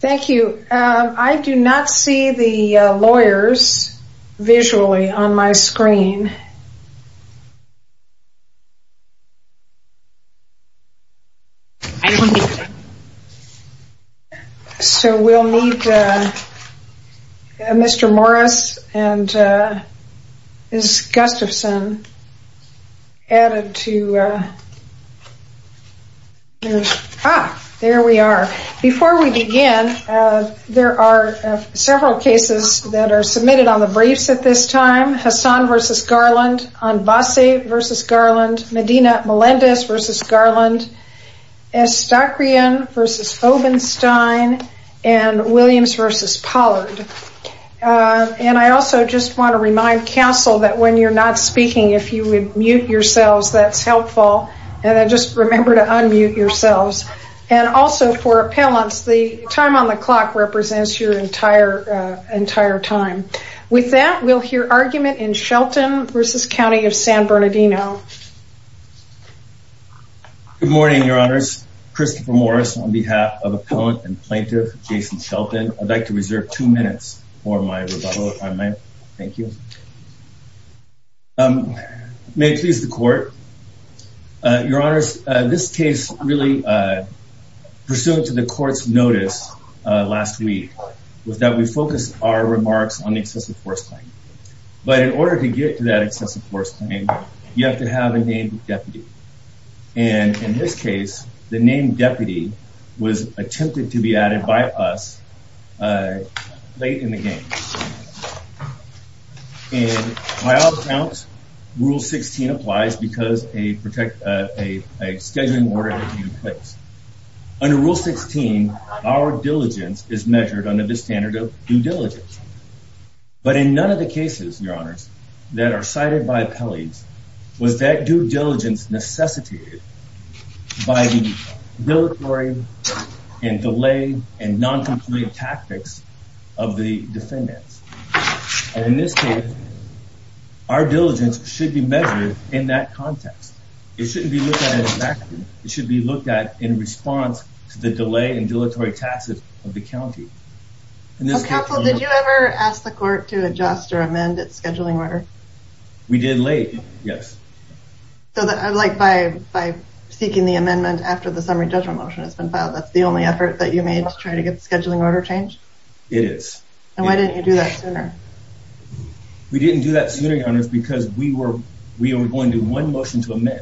Thank you, I do not see the lawyers visually on my screen. So we'll need Mr. Morris and Ms. Gustafson added to There we are. Before we begin, there are several cases that are submitted on the briefs at this time. Hassan v. Garland, Anbassi v. Garland, Medina Melendez v. Garland, Estakrian v. Obenstein, and Williams v. Pollard. And I also just want to remind counsel that when you're not speaking, if you would mute yourselves, that's helpful. And just remember to unmute yourselves. And also for appellants, the time on the clock represents your entire time. With that, we'll hear argument in Shelton v. County of San Bernardino. Good morning, Your Honors. Christopher Morris on behalf of appellant and plaintiff Jason Shelton. I'd like to reserve two minutes for my rebuttal if I may. Thank you. May it please the court. Your Honors, this case really, pursuant to the court's notice last week, was that we focused our remarks on the excessive force claim. But in order to get to that excessive force claim, you have to have a named deputy. And in this case, the named deputy was attempted to be added by us late in the game. And by all accounts, Rule 16 applies because a scheduling order has been placed. Under Rule 16, our diligence is measured under the standard of due diligence. But in none of the cases, Your Honors, that are cited by appellees, was that due diligence necessitated by the dilatory and delay and non-compliant tactics of the defendants. And in this case, our diligence should be measured in that context. It shouldn't be looked at in a vacuum. It should be looked at in response to the delay and dilatory tactics of the county. Counsel, did you ever ask the court to adjust or amend its scheduling order? We did late, yes. So, like, by seeking the amendment after the summary judgment motion has been filed, that's the only effort that you made to try to get the scheduling order changed? It is. And why didn't you do that sooner? We didn't do that sooner, Your Honors, because we were going to do one motion to amend.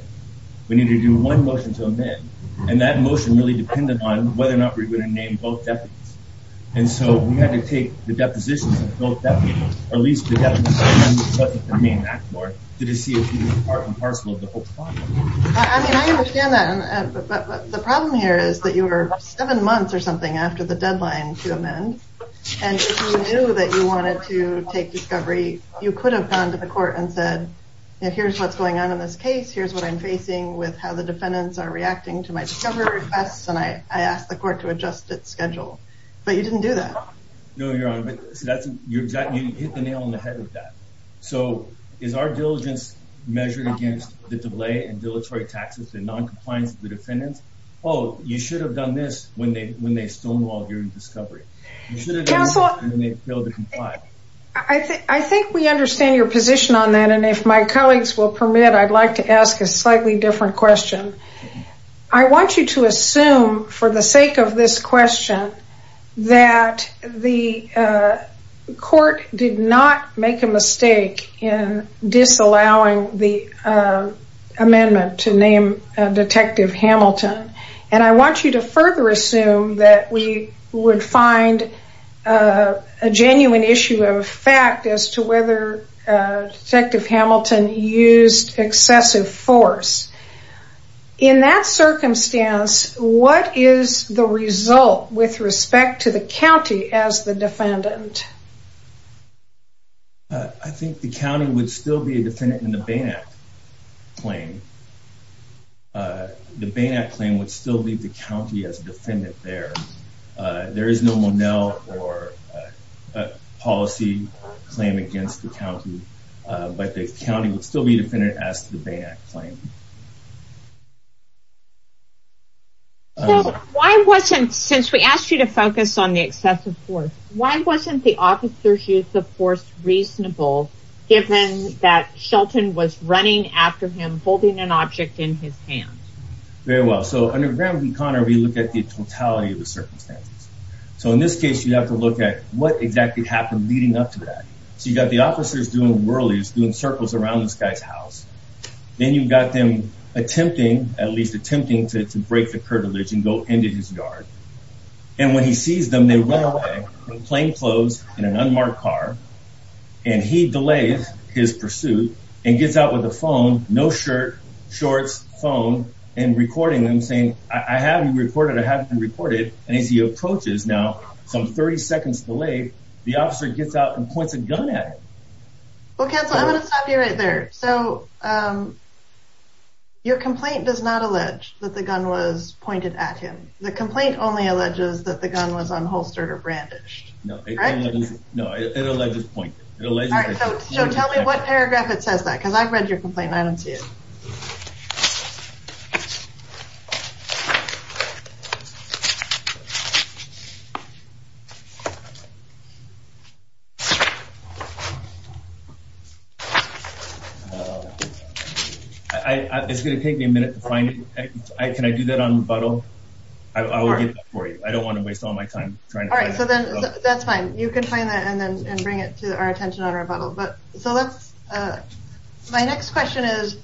We needed to do one motion to amend. And that motion really depended on whether or not we were going to name both deputies. And so we had to take the depositions of both deputies, or at least the deputies that amended the main act order, to see if we were part and parcel of the whole problem. I mean, I understand that. But the problem here is that you were seven months or something after the deadline to amend. And if you knew that you wanted to take discovery, you could have gone to the court and said, here's what's going on in this case. Here's what I'm facing with how the defendants are reacting to my discovery requests. And I asked the court to adjust its schedule. But you didn't do that. No, Your Honor. You hit the nail on the head with that. So is our diligence measured against the delay and dilatory tactics and noncompliance of the defendants? Oh, you should have done this when they stonewalled your discovery. You should have done this when they failed to comply. I think we understand your position on that. And if my colleagues will permit, I'd like to ask a slightly different question. I want you to assume for the sake of this question that the court did not make a mistake in disallowing the amendment to name Detective Hamilton. And I want you to further assume that we would find a genuine issue of fact as to whether Detective Hamilton used excessive force. In that circumstance, what is the result with respect to the county as the defendant? I think the county would still be a defendant in the Bain Act claim. The Bain Act claim would still leave the county as a defendant there. There is no Monell or policy claim against the county. But the county would still be a defendant as to the Bain Act claim. So why wasn't, since we asked you to focus on the excessive force, why wasn't the officer's use of force reasonable given that Shelton was running after him holding an object in his hand? Very well. So under Graham v. Conner, we look at the totality of the circumstances. So in this case, you have to look at what exactly happened leading up to that. So you've got the officers doing whirlies, doing circles around this guy's house. Then you've got them attempting, at least attempting to break the curtilage and go into his yard. And when he sees them, they run away in plain clothes in an unmarked car. And he delays his pursuit and gets out with a phone, no shirt, shorts, phone, and recording them saying, I have you recorded, I have you recorded. And as he approaches, now some 30 seconds delayed, the officer gets out and points a gun at him. Well, counsel, I'm going to stop you right there. So your complaint does not allege that the gun was pointed at him. The complaint only alleges that the gun was unholstered or brandished. No, it alleges pointed. So tell me what paragraph it says that, because I've read your complaint and I don't see it. It's going to take me a minute to find it. Can I do that on rebuttal? I don't want to waste all my time. All right. So then that's fine. You can find that and then bring it to our attention on rebuttal. My next question is,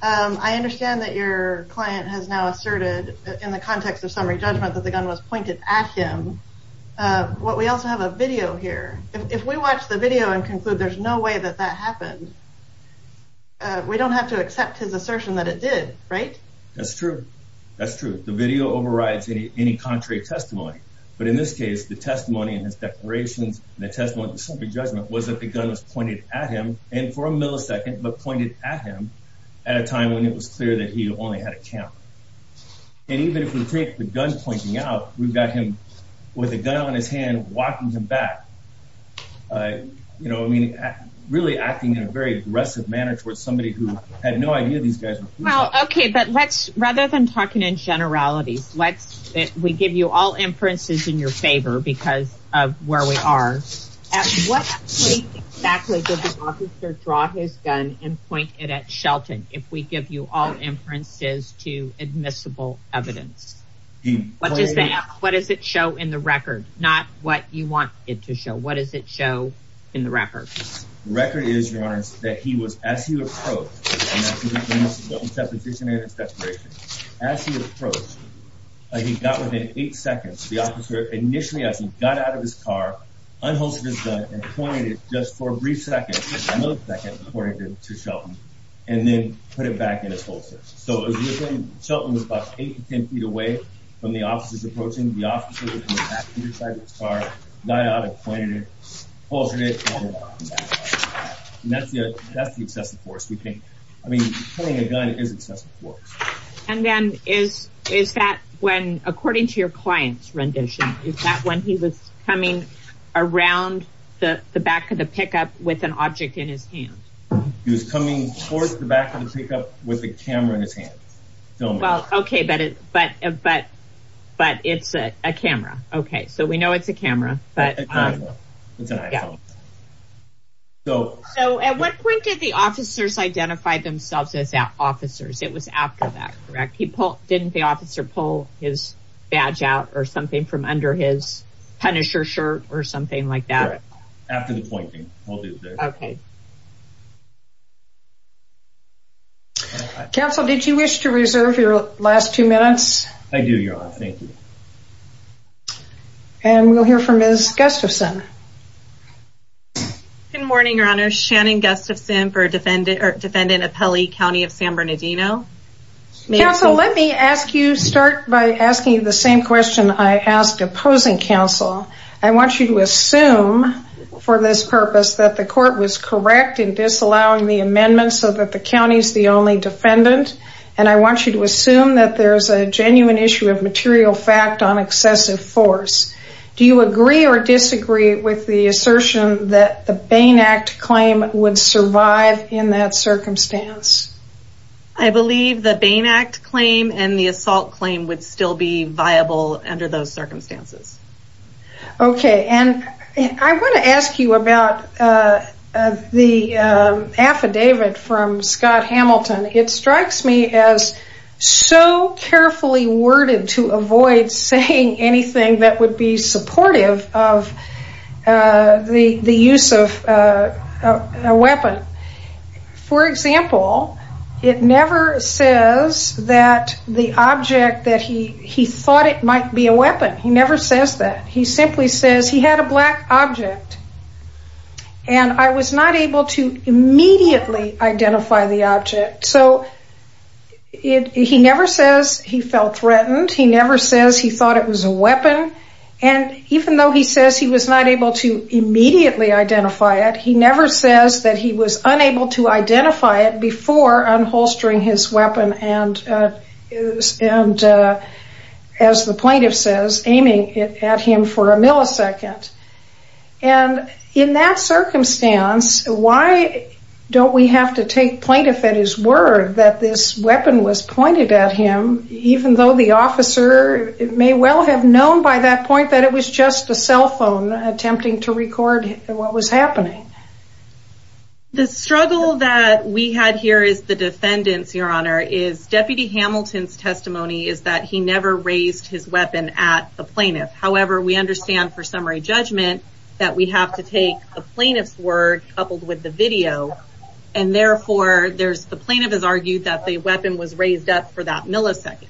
I understand that your client has now asserted in the context of summary judgment that the gun was pointed at him. We also have a video here. If we watch the video and conclude there's no way that that happened, we don't have to accept his assertion that it did, right? That's true. That's true. The video overrides any contrary testimony. But in this case, the testimony and his declarations and the testimony of the summary judgment was that the gun was pointed at him and for a millisecond, but pointed at him at a time when it was clear that he only had a camera. And even if we take the gun pointing out, we've got him with a gun on his hand, walking him back. You know, I mean, really acting in a very aggressive manner towards somebody who had no idea these guys were police officers. Well, OK, but let's rather than talking in generalities, let's we give you all inferences in your favor because of where we are. At what point exactly did the officer draw his gun and point it at Shelton? If we give you all inferences to admissible evidence, what does that what does it show in the record? Not what you want it to show. What does it show in the record? The record is, your honor, that he was as he approached the position in his declaration, as he approached, he got within eight seconds. The officer initially, as he got out of his car, unholstered his gun and pointed it just for a brief second, a millisecond, according to Shelton, and then put it back in his holster. So as you were saying, Shelton was about eight to 10 feet away from the officers approaching. The officer was in the back seat of his car, got out and pointed it, unholstered it, and put it back in his holster. And that's the excessive force. I mean, putting a gun is excessive force. And then is that when, according to your client's rendition, is that when he was coming around the back of the pickup with an object in his hand? He was coming towards the back of the pickup with a camera in his hand. Well, okay, but it's a camera. Okay, so we know it's a camera. It's an iPhone. So at what point did the officers identify themselves as officers? It was after that, correct? Didn't the officer pull his badge out or something from under his Punisher shirt or something like that? After the pointing. Okay. Counsel, did you wish to reserve your last two minutes? I do, Your Honor. Thank you. And we'll hear from Ms. Gustafson. Good morning, Your Honor. Shannon Gustafson for Defendant Appelli County of San Bernardino. Counsel, let me ask you, start by asking the same question I asked opposing counsel. I want you to assume for this purpose that the court was correct in disallowing the amendment so that the county is the only defendant. And I want you to assume that there is a genuine issue of material fact on excessive force. Do you agree or disagree with the assertion that the Bain Act claim would survive in that circumstance? I believe the Bain Act claim and the assault claim would still be viable under those circumstances. Okay. And I want to ask you about the affidavit from Scott Hamilton. It strikes me as so carefully worded to avoid saying anything that would be supportive of the use of a weapon. For example, it never says that the object that he thought it might be a weapon. He never says that. He simply says he had a black object and I was not able to immediately identify the object. So he never says he felt threatened. He never says he thought it was a weapon. And even though he says he was not able to immediately identify it, he never says that he was unable to identify it before unholstering his weapon and, as the plaintiff says, aiming it at him for a millisecond. And in that circumstance, why don't we have to take plaintiff at his word that this weapon was pointed at him, even though the officer may well have known by that point that it was just a cell phone attempting to record what was happening? The struggle that we had here as the defendants, Your Honor, is Deputy Hamilton's testimony is that he never raised his weapon at the plaintiff. However, we understand for summary judgment that we have to take the plaintiff's word coupled with the video. And therefore, the plaintiff has argued that the weapon was raised up for that millisecond.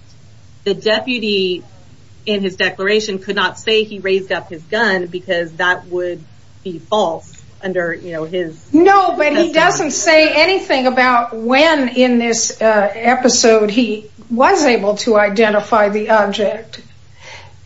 The deputy in his declaration could not say he raised up his gun because that would be false under his... No, but he doesn't say anything about when in this episode he was able to identify the object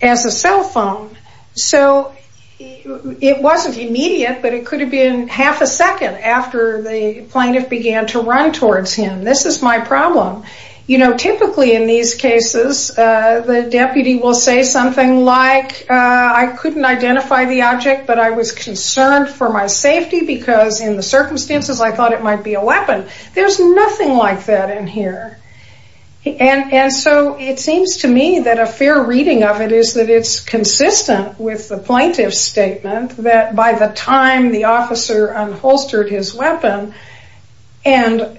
as a cell phone. So it wasn't immediate, but it could have been half a second after the plaintiff began to run towards him. This is my problem. You know, typically in these cases, the deputy will say something like, I couldn't identify the object, but I was concerned for my safety because in the circumstances I thought it might be a weapon. There's nothing like that in here. And so it seems to me that a fair reading of it is that it's consistent with the plaintiff's statement that by the time the officer unholstered his weapon and,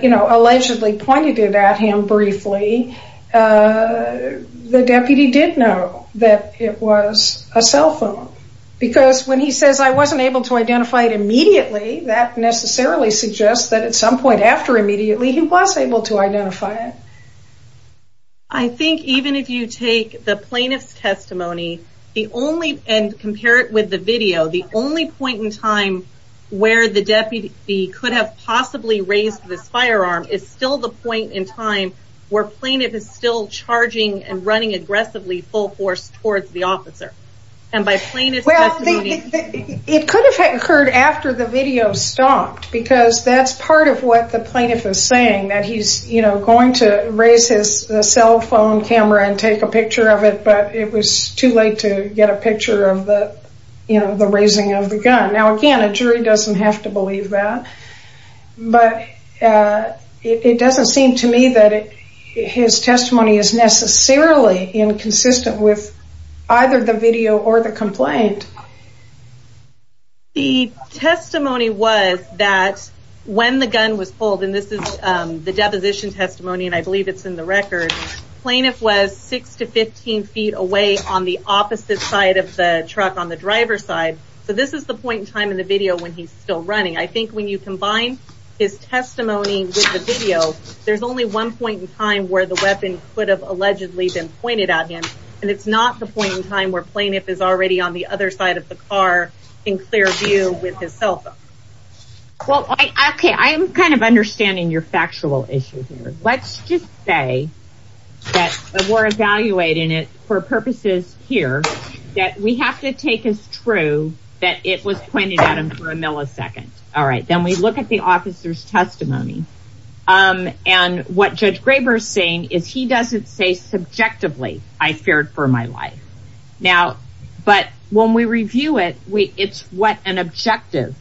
you know, allegedly pointed it at him briefly, the deputy did know that it was a cell phone. Because when he says, I wasn't able to identify it immediately, that necessarily suggests that at some point after immediately he was able to identify it. I think even if you take the plaintiff's testimony and compare it with the video, the only point in time where the deputy could have possibly raised this firearm is still the point in time where plaintiff is still charging and running aggressively full force towards the officer. It could have occurred after the video stopped because that's part of what the plaintiff is saying, that he's going to raise his cell phone camera and take a picture of it, but it was too late to get a picture of the raising of the gun. Now, again, a jury doesn't have to believe that, but it doesn't seem to me that his testimony is necessarily inconsistent with either the video or the complaint. The testimony was that when the gun was pulled, and this is the deposition testimony, and I believe it's in the record, plaintiff was six to 15 feet away on the opposite side of the truck on the driver's side. So this is the point in time in the video when he's still running. I think when you combine his testimony with the video, there's only one point in time where the weapon could have allegedly been pointed at him, and it's not the point in time where plaintiff is already on the other side of the car in clear view with his cell phone. Well, okay, I'm kind of understanding your factual issue here. Let's just say that we're evaluating it for purposes here, that we have to take as true that it was pointed at him for a millisecond. All right, then we look at the officer's testimony, and what Judge Graber is saying is he doesn't say subjectively, I feared for my life. Now, but when we review it, it's what an objective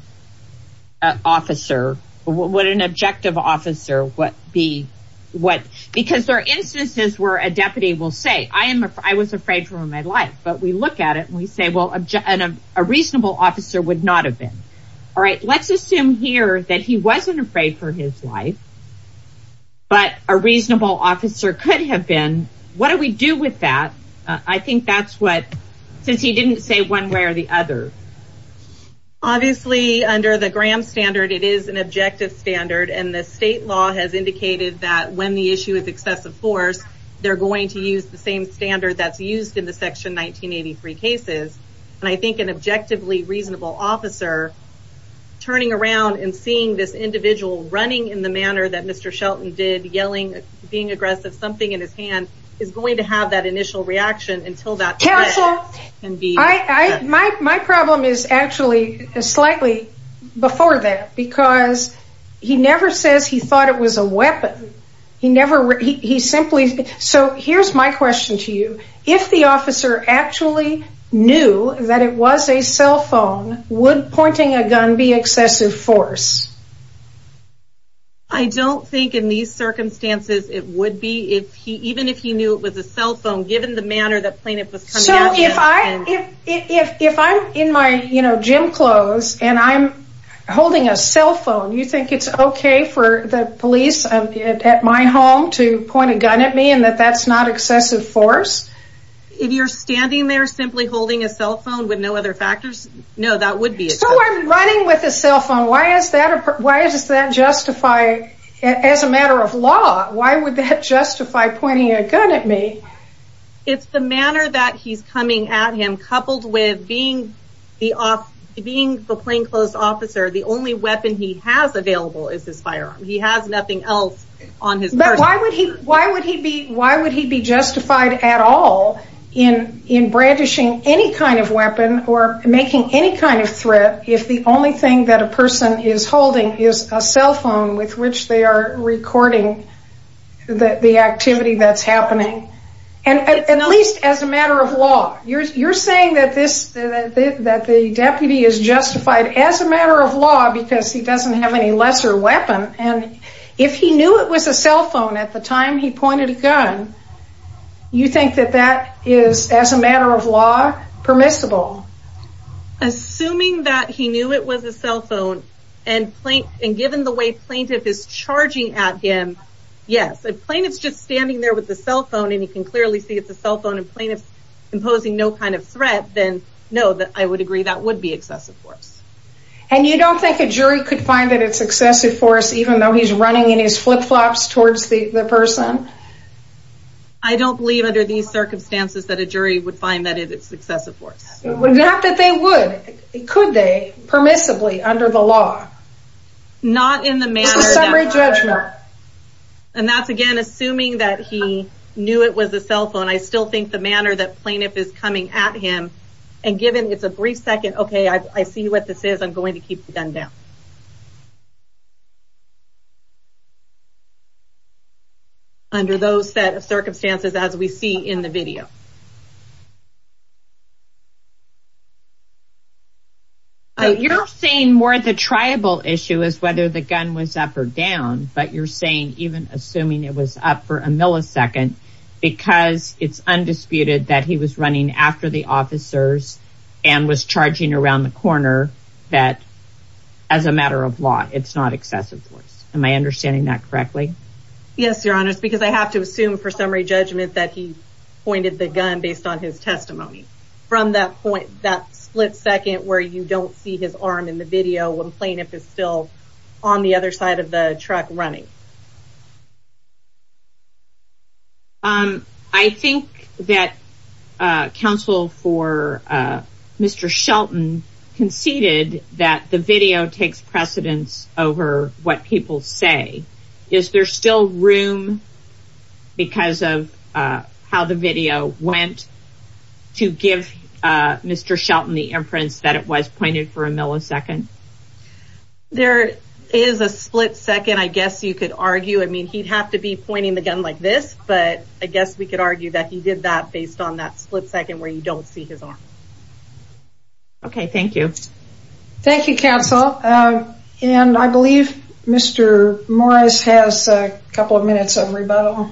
officer, what an objective officer would be, because there are instances where a deputy will say, I was afraid for my life, but we look at it and we say, well, a reasonable officer would not have been. All right, let's assume here that he wasn't afraid for his life, but a reasonable officer could have been. What do we do with that? I think that's what, since he didn't say one way or the other. Obviously, under the Graham standard, it is an objective standard, and the state law has indicated that when the issue is excessive force, they're going to use the same standard that's used in the Section 1983 cases. And I think an objectively reasonable officer turning around and seeing this individual running in the manner that Mr. Shelton did, yelling, being aggressive, something in his hand, is going to have that initial reaction until that can be. My problem is actually slightly before that, because he never says he thought it was a weapon. He never, he simply, so here's my question to you. If the officer actually knew that it was a cell phone, would pointing a gun be excessive force? I don't think in these circumstances it would be, even if he knew it was a cell phone, given the manner that plaintiff was coming at him. So if I'm in my gym clothes and I'm holding a cell phone, you think it's okay for the police at my home to point a gun at me and that that's not excessive force? If you're standing there simply holding a cell phone with no other factors, no, that would be excessive. So I'm running with a cell phone. Why does that justify, as a matter of law, why would that justify pointing a gun at me? It's the manner that he's coming at him, coupled with being the plainclothes officer, the only weapon he has available is his firearm. He has nothing else on his purse. But why would he be justified at all in brandishing any kind of weapon or making any kind of threat if the only thing that a person is holding is a cell phone with which they are recording the activity that's happening? At least as a matter of law. You're saying that the deputy is justified as a matter of law because he doesn't have any lesser weapon, and if he knew it was a cell phone at the time he pointed a gun, you think that that is, as a matter of law, permissible? Assuming that he knew it was a cell phone, and given the way plaintiff is charging at him, yes. If plaintiff's just standing there with a cell phone and he can clearly see it's a cell phone and plaintiff's imposing no kind of threat, then no, I would agree that would be excessive force. And you don't think a jury could find that it's excessive force, even though he's running in his flip-flops towards the person? I don't believe under these circumstances that a jury would find that it's excessive force. Not that they would. Could they, permissibly, under the law? Not in the manner that... It's a summary judgment. And that's, again, assuming that he knew it was a cell phone. I still think the manner that plaintiff is coming at him, and given it's a brief second, okay, I see what this is, I'm going to keep the gun down. Under those set of circumstances as we see in the video. You're saying more the tribal issue is whether the gun was up or down, but you're saying, even assuming it was up for a millisecond, because it's undisputed that he was running after the officers and was charging around the corner, that, as a matter of law, it's not excessive force. Am I understanding that correctly? Yes, Your Honor, it's because I have to assume for summary judgment that he pointed the gun based on his testimony. From that point, that split second where you don't see his arm in the video when plaintiff is still on the other side of the truck running. I think that counsel for Mr. Shelton conceded that the video takes precedence over what people say. Is there still room, because of how the video went, to give Mr. Shelton the inference that it was pointed for a millisecond? There is a split second, I guess you could argue. I mean, he'd have to be pointing the gun like this, but I guess we could argue that he did that based on that split second where you don't see his arm. Okay, thank you. Thank you, counsel. And I believe Mr. Morris has a couple of minutes of rebuttal.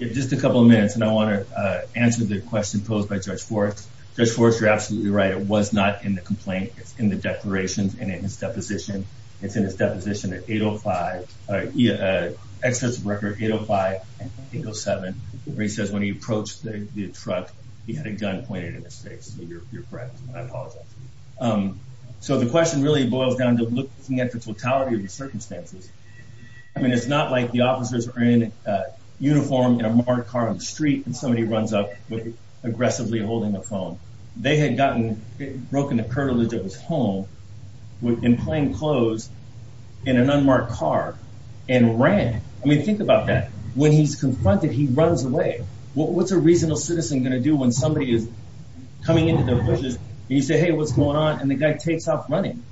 Just a couple of minutes, and I want to answer the question posed by Judge Forrest. Judge Forrest, you're absolutely right. It was not in the complaint. It's in the declarations and in his deposition. It's in his deposition at 805, Exodus of Record, 805 and 807, where he says when he approached the truck, he had a gun pointed in his face. You're correct. I apologize. So the question really boils down to looking at the totality of the circumstances. I mean, it's not like the officers are in uniform in a marked car on the street and somebody runs up aggressively holding a phone. They had broken the curtilage of his home in plain clothes in an unmarked car and ran. I mean, think about that. When he's confronted, he runs away. What's a reasonable citizen going to do when somebody is coming into their bushes and you say, hey, what's going on? And the guy takes off running.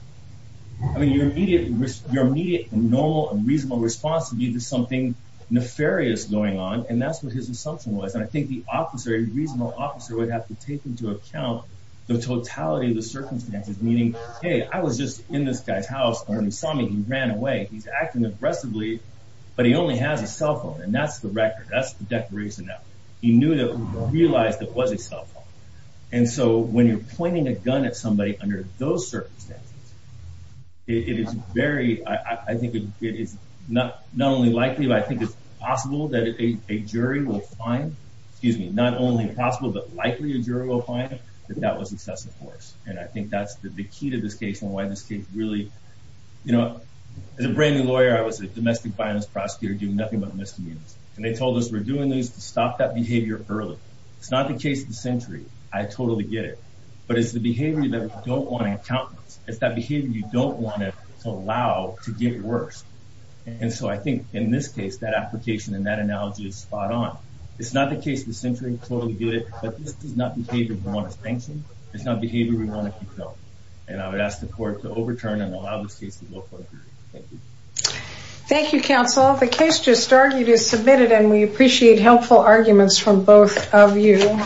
I mean, your immediate normal and reasonable response would be to something nefarious going on. And that's what his assumption was. And I think the officer, a reasonable officer, would have to take into account the totality of the circumstances, meaning, hey, I was just in this guy's house. And when he saw me, he ran away. He's acting aggressively, but he only has a cell phone. And that's the record. That's the declaration that he knew that he realized that was a cell phone. And so when you're pointing a gun at somebody under those circumstances, it is very, I think it is not only likely, but I think it's possible that a jury will find, excuse me, not only possible, but likely a jury will find that that was excessive force. And I think that's the key to this case and why this case really, you know, as a brand new lawyer, I was a domestic violence prosecutor doing nothing but misdemeanors. And they told us we're doing this to stop that behavior early. It's not the case of the century. I totally get it. But it's the behavior that we don't want to account for. It's that behavior you don't want to allow to get worse. And so I think in this case, that application and that analogy is spot on. It's not the case of the century. I totally get it. But this is not behavior we want to sanction. It's not behavior we want to control. And I would ask the court to overturn and allow this case to go forward. Thank you. Thank you, counsel. The case just argued is submitted, and we appreciate helpful arguments from both of you.